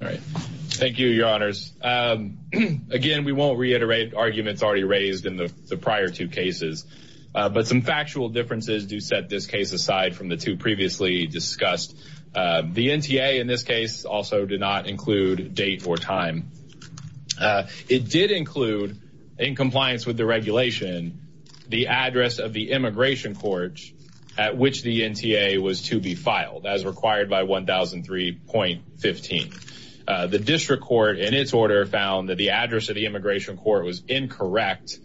All right. Thank you, your honors. Again, we won't reiterate arguments already raised in the prior two cases, but some factual differences do set this case aside from the two previously discussed. The NTA in this case also did not include date or time. It did include, in compliance with the regulation, the address of the immigration court at which the NTA was to be filed, as required by 1003.15. The district court, in its order, found that the address of the immigration court was incorrect,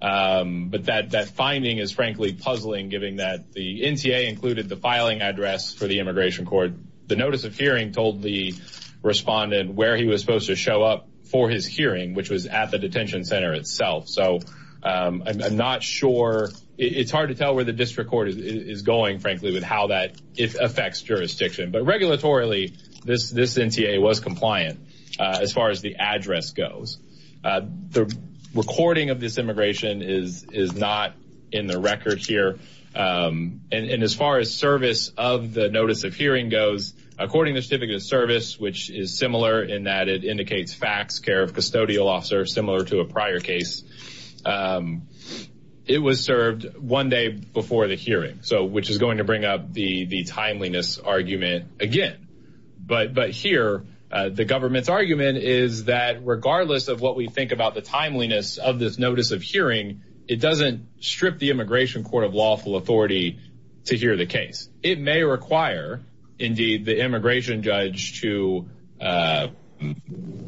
but that finding is frankly puzzling, given that the NTA included the filing address for the immigration court. The notice of hearing told the respondent where he was supposed to show up for his hearing, which was at the detention center itself. So I'm not sure. It's hard to tell where the district court is going, frankly, with how that affects jurisdiction. But regulatorily, this NTA was compliant, as far as the address goes. The recording of this immigration is not in the records here. And as far as service of the notice of hearing goes, according to Certificate of Service, which is similar in that it indicates fax care of custodial officers, similar to a prior case, it was served one day before the hearing, which is going to bring up the timeliness argument again. But here, the government's argument is that regardless of what we think about the timeliness of this notice of hearing, it doesn't strip the immigration court of lawful authority to hear the case. It may require, indeed, the immigration judge to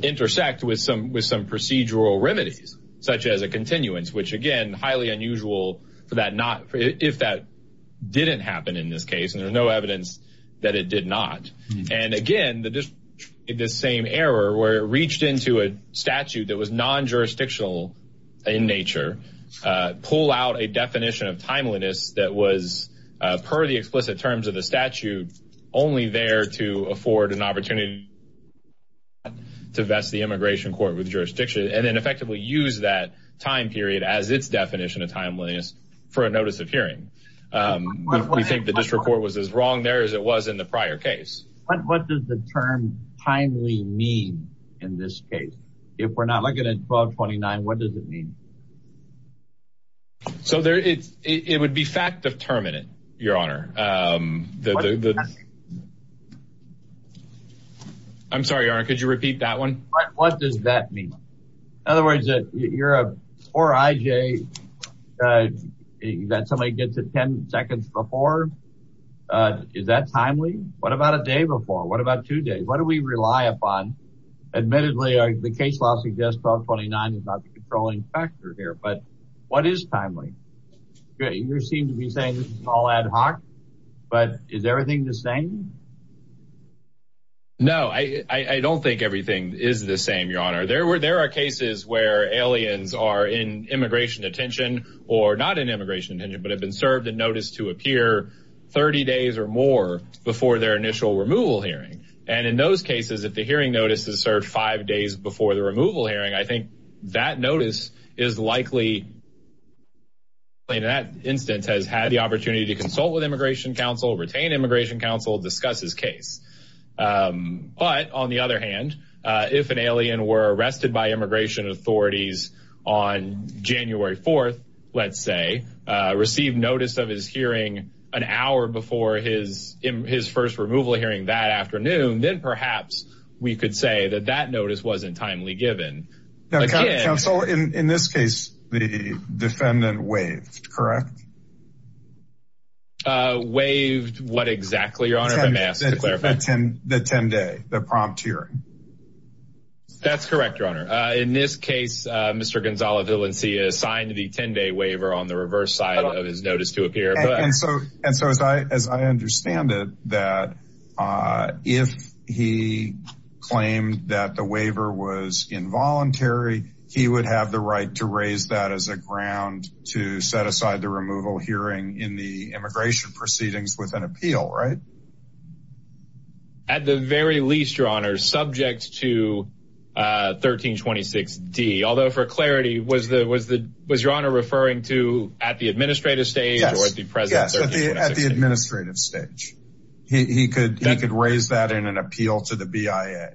intersect with some procedural remedies, such as a continuance, which, again, highly unusual if that didn't happen in this case. And there's no evidence that it did not. And again, the same error where it reached into a statute that was non-jurisdictional in nature, pull out a definition of timeliness that was, per the explicit terms of the statute, only there to afford an opportunity to vest the immigration court with jurisdiction and then effectively use that time period as its definition of timeliness for a notice of hearing. We think the district court was as wrong there as it was in the prior case. What does the term timely mean in this case? If we're not looking at 1229, what does it mean? So, it would be fact-determinant, Your Honor. I'm sorry, Your Honor, could you repeat that one? What does that mean? In other words, you're a poor IJ, that somebody gets it 10 seconds before. Is that timely? What about a day before? What about two days? What do we rely upon? Admittedly, the case law suggests 1229 is not the controlling factor, but what is timely? You seem to be saying this is all ad hoc, but is everything the same? No, I don't think everything is the same, Your Honor. There are cases where aliens are in immigration detention, or not in immigration detention, but have been served a notice to appear 30 days or more before their initial removal hearing. And in those cases, if the likely, in that instance, has had the opportunity to consult with immigration counsel, retain immigration counsel, discuss his case. But, on the other hand, if an alien were arrested by immigration authorities on January 4th, let's say, received notice of his hearing an hour before his first removal hearing that afternoon, then perhaps we could say that that notice wasn't timely given. Counsel, in this case, the defendant waived, correct? Waived what exactly, Your Honor, if I may ask to clarify? The 10-day, the prompt hearing. That's correct, Your Honor. In this case, Mr. Gonzalez-Villancia signed the 10-day waiver on the reverse side of his notice to appear. And so, as I understand it, that if he claimed that waiver was involuntary, he would have the right to raise that as a ground to set aside the removal hearing in the immigration proceedings with an appeal, right? At the very least, Your Honor, subject to 1326D. Although, for clarity, was the, was the, was Your Honor referring to at the administrative stage? Yes, at the administrative stage. He could raise that in an appeal to the BIA.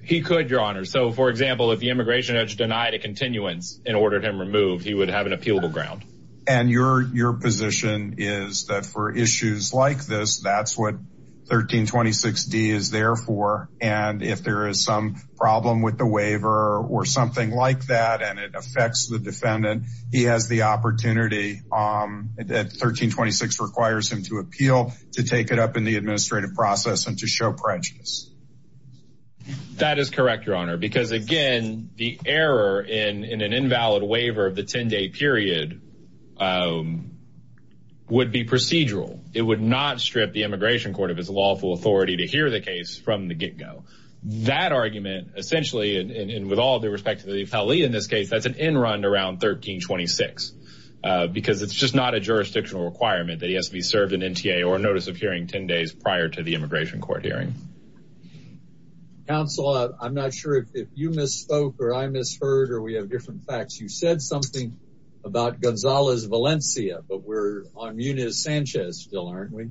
He could, Your Honor. So, for example, if the immigration judge denied a continuance and ordered him removed, he would have an appealable ground. And your, your position is that for issues like this, that's what 1326D is there for. And if there is some problem with the waiver or something like that, and it affects the defendant, he has the opportunity that 1326 requires him to appeal to take it up in the administrative process and to show prejudice. That is correct, Your Honor, because, again, the error in an invalid waiver of the 10-day period would be procedural. It would not strip the immigration court of its lawful authority to hear the case from the get-go. That argument, essentially, and with all due respect to the NTA or notice of hearing 10 days prior to the immigration court hearing. Counsel, I'm not sure if you misspoke or I misheard or we have different facts. You said something about Gonzales-Valencia, but we're on Munoz-Sanchez still, aren't we?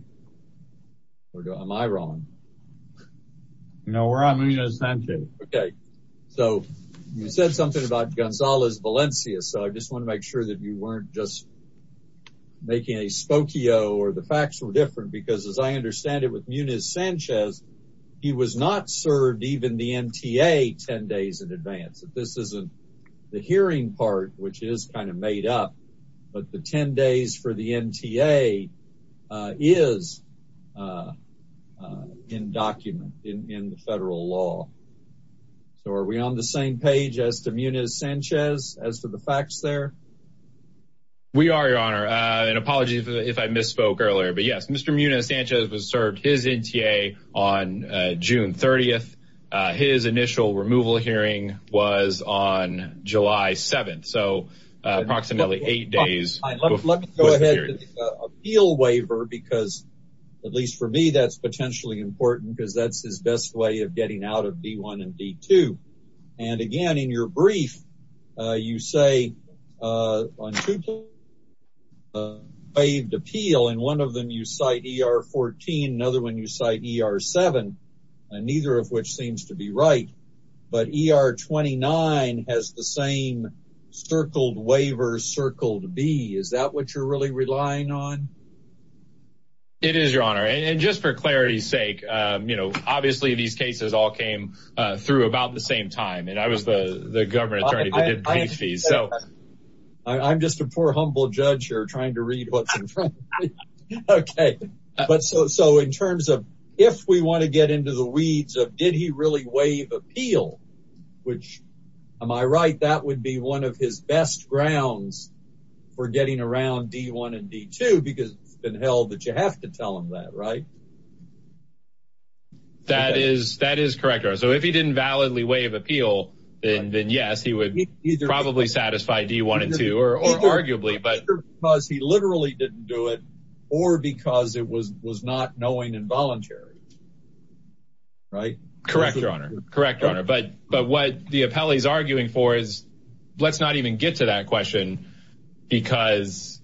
Or am I wrong? No, we're on Munoz-Sanchez. Okay, so you said something about Gonzales-Valencia, so I just want to make sure that you weren't just making a spokio or the facts were different, because as I understand it with Munoz-Sanchez, he was not served even the NTA 10 days in advance. This isn't the hearing part, which is kind of made up, but the 10 days for the NTA is in document in the federal law. So are we on the same page as to Munoz-Sanchez as to the facts there? We are, your honor. And apologies if I misspoke earlier, but yes, Mr. Munoz-Sanchez was served his NTA on June 30th. His initial removal hearing was on July 7th, so approximately eight days. Let me go ahead to the appeal waiver, because at least for me, that's potentially important because that's his best way of getting out of D-1 and D-2. And again, in your brief, you say on two points, waived appeal, and one of them you cite ER-14, another one you cite ER-7, neither of which seems to be right, but ER-29 has the same circled waiver circled B. Is that what you're really relying on? It is, your honor. And just for clarity's sake, you know, obviously these cases all came through about the same time, and I was the government attorney. I'm just a poor, humble judge here trying to read what's in front of me. Okay, but so in terms of if we want to get into the weeds of did he really waive appeal, which, am I right, that would be one of his best grounds for getting around D-1 and D-2, because it's been held that you have to tell him that, right? That is correct, your honor. So if he didn't validly waive appeal, then yes, he would probably satisfy D-1 and D-2, or arguably. Either because he literally didn't do it, or because it was not knowing and voluntary, right? Correct, your honor. But what the appellee is arguing for is, let's not even get to that question, because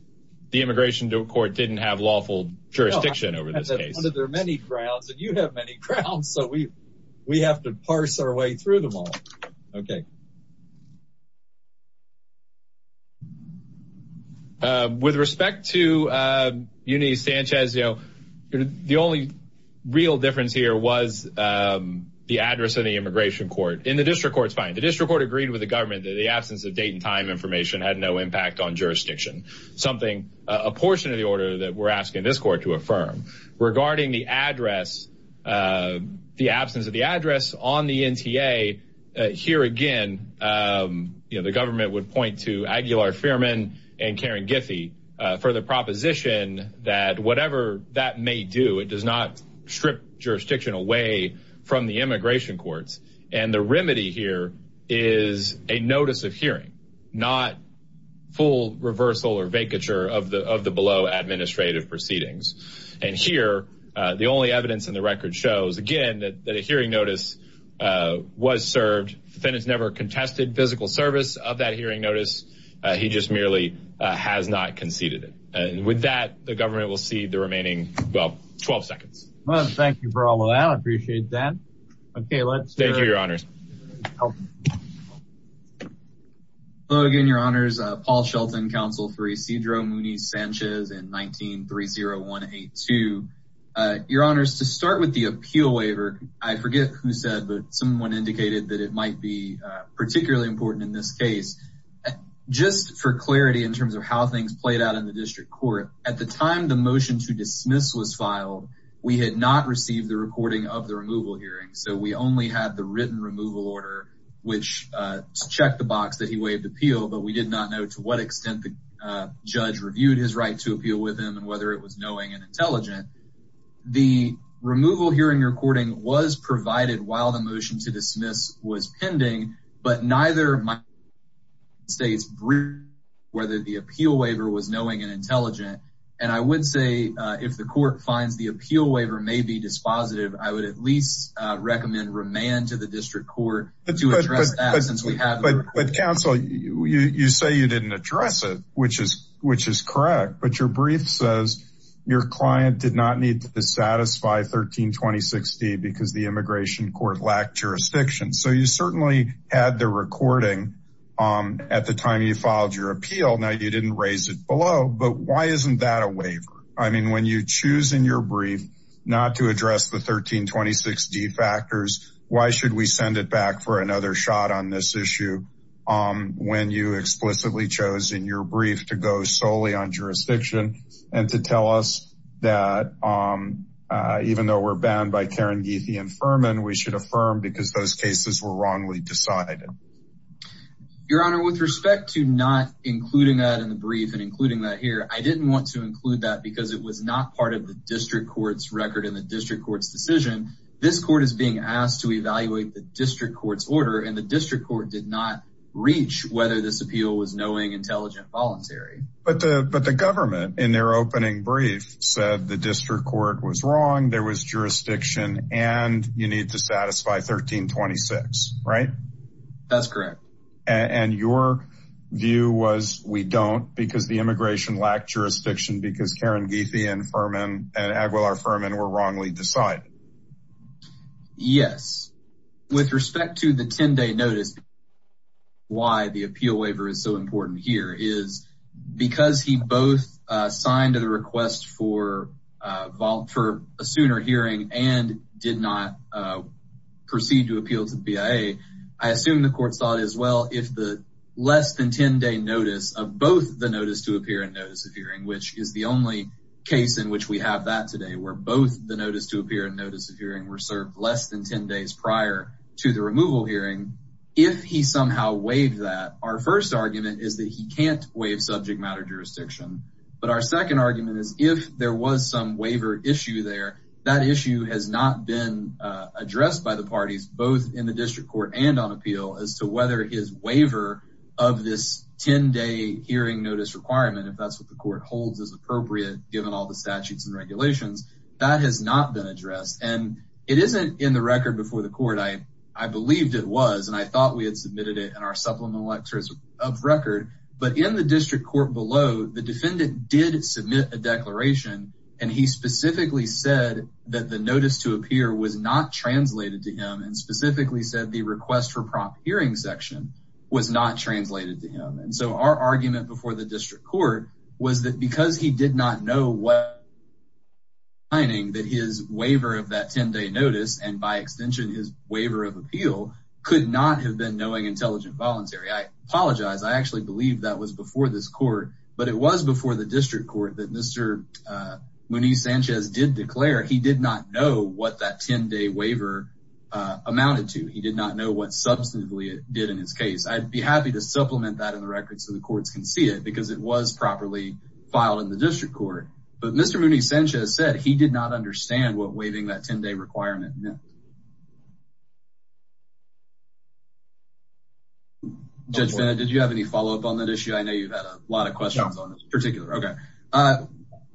the immigration court didn't have lawful jurisdiction over this case. There are many grounds, and you have many grounds, so we have to parse our way through them all. Okay. With respect to Eunice Sanchez, you know, the only real difference here was the address of the immigration court. In the district court, it's fine. The district court agreed with the government that the absence of date and time information had no impact on jurisdiction. Something, a portion of the order that we're asking this court to affirm. Regarding the address, the absence of address on the NTA, here again, you know, the government would point to Aguilar-Fuhrman and Karen Giffey for the proposition that whatever that may do, it does not strip jurisdiction away from the immigration courts. And the remedy here is a notice of hearing, not full reversal or vacature of the below administrative proceedings. And here, the only evidence in the record shows, again, that a hearing notice was served. Defendant's never contested physical service of that hearing notice. He just merely has not conceded it. And with that, the government will cede the remaining, well, 12 seconds. Well, thank you for all of that. I appreciate that. Okay, let's- Thank you, Your Honors. Hello again, Your Honors. Paul Shelton, counsel for Isidro-Mooney-Sanchez in 19-30182. Your Honors, to start with the appeal waiver, I forget who said, but someone indicated that it might be particularly important in this case. Just for clarity in terms of how things played out in the district court, at the time the motion to dismiss was filed, we had not received the recording of the removal hearing. So we only had the written removal order, which checked the box that he waived appeal, but we did not know to what extent the judge reviewed his right to appeal with and whether it was knowing and intelligent. The removal hearing recording was provided while the motion to dismiss was pending, but neither of my states briefed whether the appeal waiver was knowing and intelligent. And I would say if the court finds the appeal waiver may be dispositive, I would at least recommend remand to the district court to address that since we have- Counsel, you say you didn't address it, which is correct, but your brief says your client did not need to satisfy 1326D because the immigration court lacked jurisdiction. So you certainly had the recording at the time you filed your appeal. Now you didn't raise it below, but why isn't that a waiver? I mean, when you choose in your brief not to address the 1326D why should we send it back for another shot on this issue when you explicitly chose in your brief to go solely on jurisdiction and to tell us that even though we're bound by Karen, Geethy and Furman, we should affirm because those cases were wrongly decided. Your honor, with respect to not including that in the brief and including that here, I didn't want to include that because it being asked to evaluate the district court's order and the district court did not reach whether this appeal was knowing, intelligent, voluntary. But the government in their opening brief said the district court was wrong, there was jurisdiction and you need to satisfy 1326, right? That's correct. And your view was we don't because the immigration lacked jurisdiction because Karen Geethy and Furman and Aguilar Furman were wrongly decided. Yes. With respect to the 10-day notice, why the appeal waiver is so important here is because he both signed a request for a sooner hearing and did not proceed to appeal to the BIA. I assume the court saw it as well if the less than 10-day notice of both the notice to appear which is the only case in which we have that today where both the notice to appear and notice of hearing were served less than 10 days prior to the removal hearing. If he somehow waived that, our first argument is that he can't waive subject matter jurisdiction. But our second argument is if there was some waiver issue there, that issue has not been addressed by the parties both in the district court and on appeal as to whether his waiver of this 10-day hearing notice requirement, if that's what the court holds is appropriate given all the statutes and regulations, that has not been addressed. And it isn't in the record before the court. I believed it was and I thought we had submitted it in our supplement lectures of record. But in the district court below, the defendant did submit a declaration and he specifically said that the notice to appear was not translated to him and specifically said the request for prompt hearing section was not translated to him. And so our argument before the district court was that because he did not know that his waiver of that 10-day notice and by extension his waiver of appeal could not have been knowing intelligent voluntary. I apologize. I actually believe that was before this court, but it was before the district court that Mr. Munez-Sanchez did declare he did not know what that 10-day waiver amounted to. He did not know what substantively it did in his case. I'd be happy to supplement that in the record so the courts can see it because it was properly filed in the district court. But Mr. Munez-Sanchez said he did not understand what waiving that 10-day requirement meant. Judge Fennett, did you have any follow-up on that issue? I know you've had a lot of questions on this particular. Okay.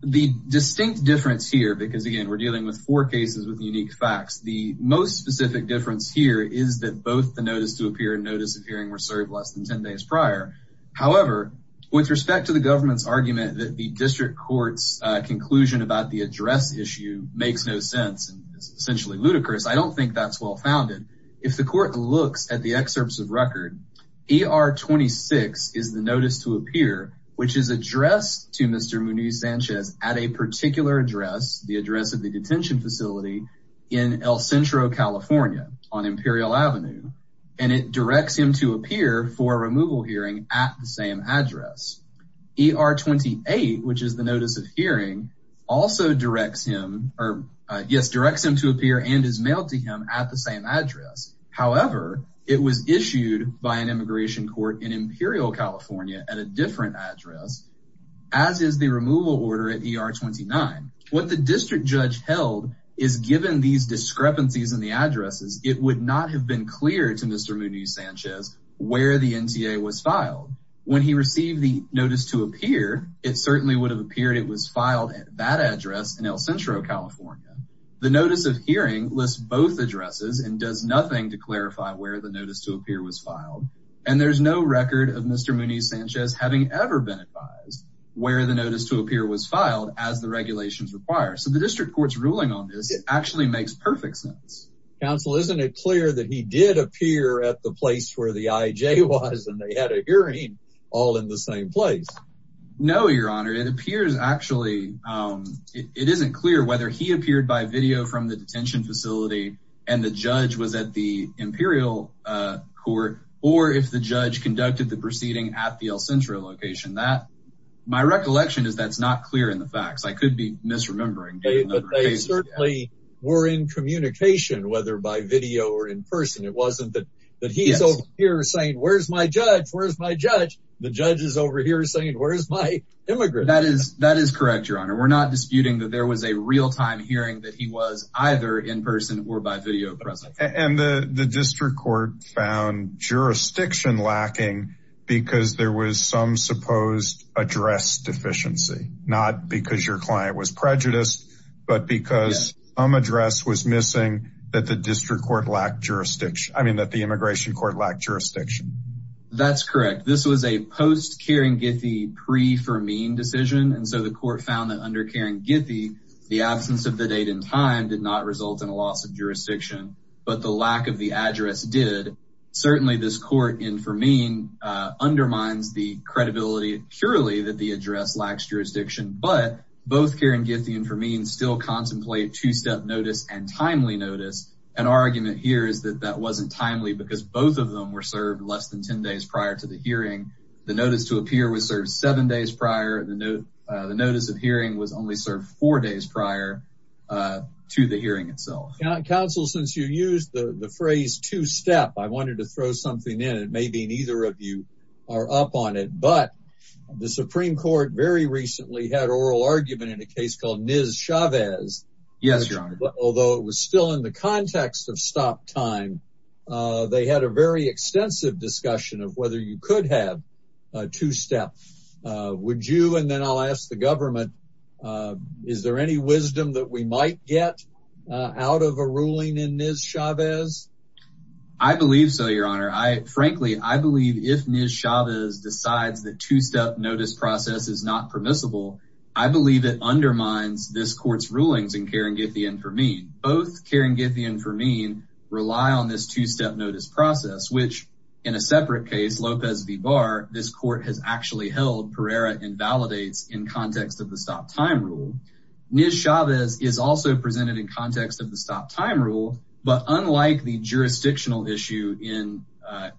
The distinct difference here, because again, we're dealing with four cases with unique facts. The most specific difference here is that both the notice to appear and notice of hearing were served less than 10 days prior. However, with respect to the government's argument that the district court's conclusion about the address issue makes no sense and is essentially ludicrous, I don't think that's well founded. If the court looks at the excerpts of record, ER 26 is the notice to appear, which is addressed to Mr. Munez-Sanchez at a particular address, the address of the detention facility in El Centro, California on Imperial Avenue. And it directs him to appear for removal hearing at the same address. ER 28, which is the notice of hearing, also directs him to appear and is mailed to him at the same address. However, it was issued by an immigration court in Imperial, California at a different address, as is the removal order at ER 29. What the district judge held is given these discrepancies in the addresses, it would not have been clear to Mr. Munez-Sanchez where the NTA was filed. When he received the notice to appear, it certainly would have appeared it was filed at that address in El Centro, California. The notice of hearing lists both addresses and does nothing to clarify where the notice to appear was filed. And there's no record of Mr. Munez-Sanchez having ever been advised where the notice to appear was filed as the regulations require. So the district court's perfect sense. Counsel, isn't it clear that he did appear at the place where the IJ was and they had a hearing all in the same place? No, your honor. It appears actually, it isn't clear whether he appeared by video from the detention facility and the judge was at the Imperial court, or if the judge conducted the proceeding at the El Centro location. My recollection is that's not clear in facts. I could be misremembering. They certainly were in communication, whether by video or in person. It wasn't that he's over here saying, where's my judge? Where's my judge? The judge is over here saying, where's my immigrant? That is correct, your honor. We're not disputing that there was a real-time hearing that he was either in person or by video presence. And the district court found jurisdiction lacking because there was some supposed address deficiency. Not because your client was prejudiced, but because some address was missing that the district court lacked jurisdiction. I mean that the immigration court lacked jurisdiction. That's correct. This was a post-Kering-Githy, pre-Fermeen decision. And so the court found that under Kering-Githy, the absence of the date and time did not result in a loss of jurisdiction, but the lack of the address did. Certainly this court in Fermeen undermines the credibility purely that the address lacks jurisdiction, but both Kering-Githy and Fermeen still contemplate two-step notice and timely notice. An argument here is that that wasn't timely because both of them were served less than 10 days prior to the hearing. The notice to appear was served seven days prior. The notice of hearing was only served four days prior to the hearing itself. Counsel, since you used the phrase two-step, I wanted to throw something in. It may be neither of you are up on it, but the Supreme Court very recently had oral argument in a case called Ms. Chavez. Yes, Your Honor. Although it was still in the context of stop time, they had a very extensive discussion of whether you could have a two-step. Would you, and then I'll ask the government, is there any wisdom that we might get out of a ruling in Ms. Chavez? I believe so, Your Honor. Frankly, I believe if Ms. Chavez decides that two-step notice process is not permissible, I believe it undermines this court's rulings in Kering-Githy and Fermeen. Both Kering-Githy and Fermeen rely on this two-step notice process, which in a separate case, Lopez v. Barr, this court has actually held Pereira invalidates in context of the stop time rule. Ms. Chavez is also presented in context of the stop time rule, but unlike the jurisdictional issue in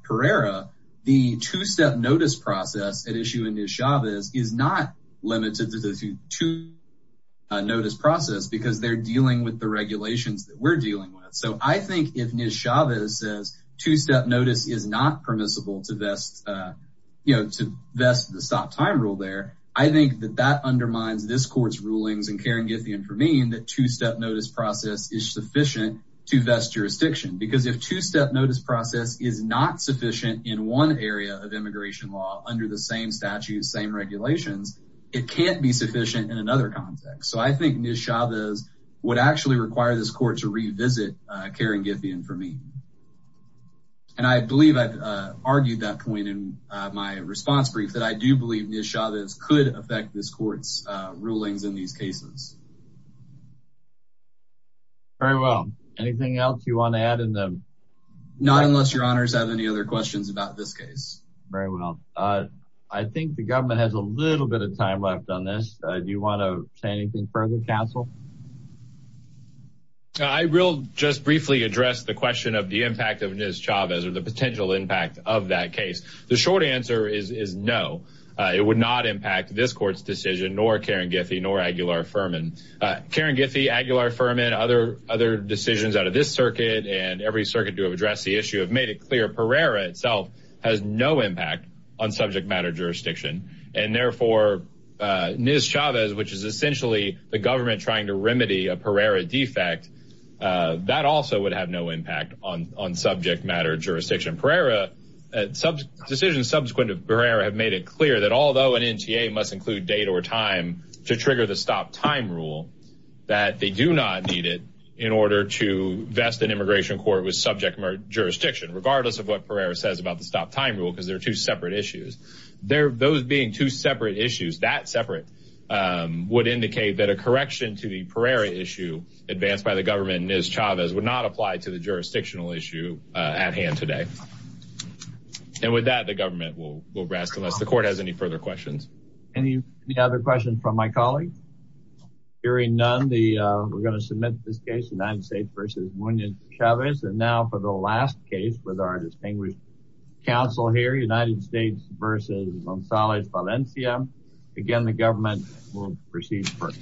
Pereira, the two-step notice process at issue in Ms. Chavez is not limited to the two-step notice process because they're dealing with the regulations that we're dealing with. So I think if Ms. Chavez says two-step notice is not permissible to vest the stop time rule there, I think that that undermines this court's rulings in Kering-Githy and Fermeen that two-step notice process is sufficient to vest jurisdiction. Because if two-step notice process is not sufficient in one area of immigration law under the same statutes, same regulations, it can't be sufficient in another context. So I think Ms. Chavez would actually require this court to revisit Kering-Githy and Fermeen. And I believe I've argued that point in my response brief that I do believe Ms. Chavez could affect this court's rulings in these cases. Very well. Anything else you want to add in the... Not unless your honors have any other questions about this case. Very well. I think the government has a little bit of time left on this. Do you want to say anything further, counsel? I will just briefly address the question of the impact of Ms. Chavez or the potential impact of that case. The short answer is no. It would not impact this court's decision, nor Kering-Githy, nor Aguilar-Fermeen. Kering-Githy, Aguilar-Fermeen, other decisions out of this circuit and every circuit to have addressed the issue have made it clear Pereira itself has no impact on subject matter jurisdiction. And therefore, Ms. Chavez, which is essentially the government trying to remedy a Pereira defect, that also would have no impact on subject matter jurisdiction. Pereira... Decisions subsequent to Pereira have made it clear that although an NTA must include date or time to trigger the stop time rule, that they do not need it in order to vest an immigration court with subject matter jurisdiction, regardless of what Pereira says about the stop time rule, because they're two separate issues. Those being two separate issues, that separate would indicate that a correction to the Pereira issue advanced by the government and Ms. Chavez would not apply to the jurisdictional issue at hand today. And with that, the government will rest unless the court has any further questions. Any other questions from my colleagues? Hearing none, we're going to submit this case, United States v. Muñoz-Chavez. And now for the last case with our distinguished counsel here, United States v. Gonzalez Valencia. Again, the government will proceed first.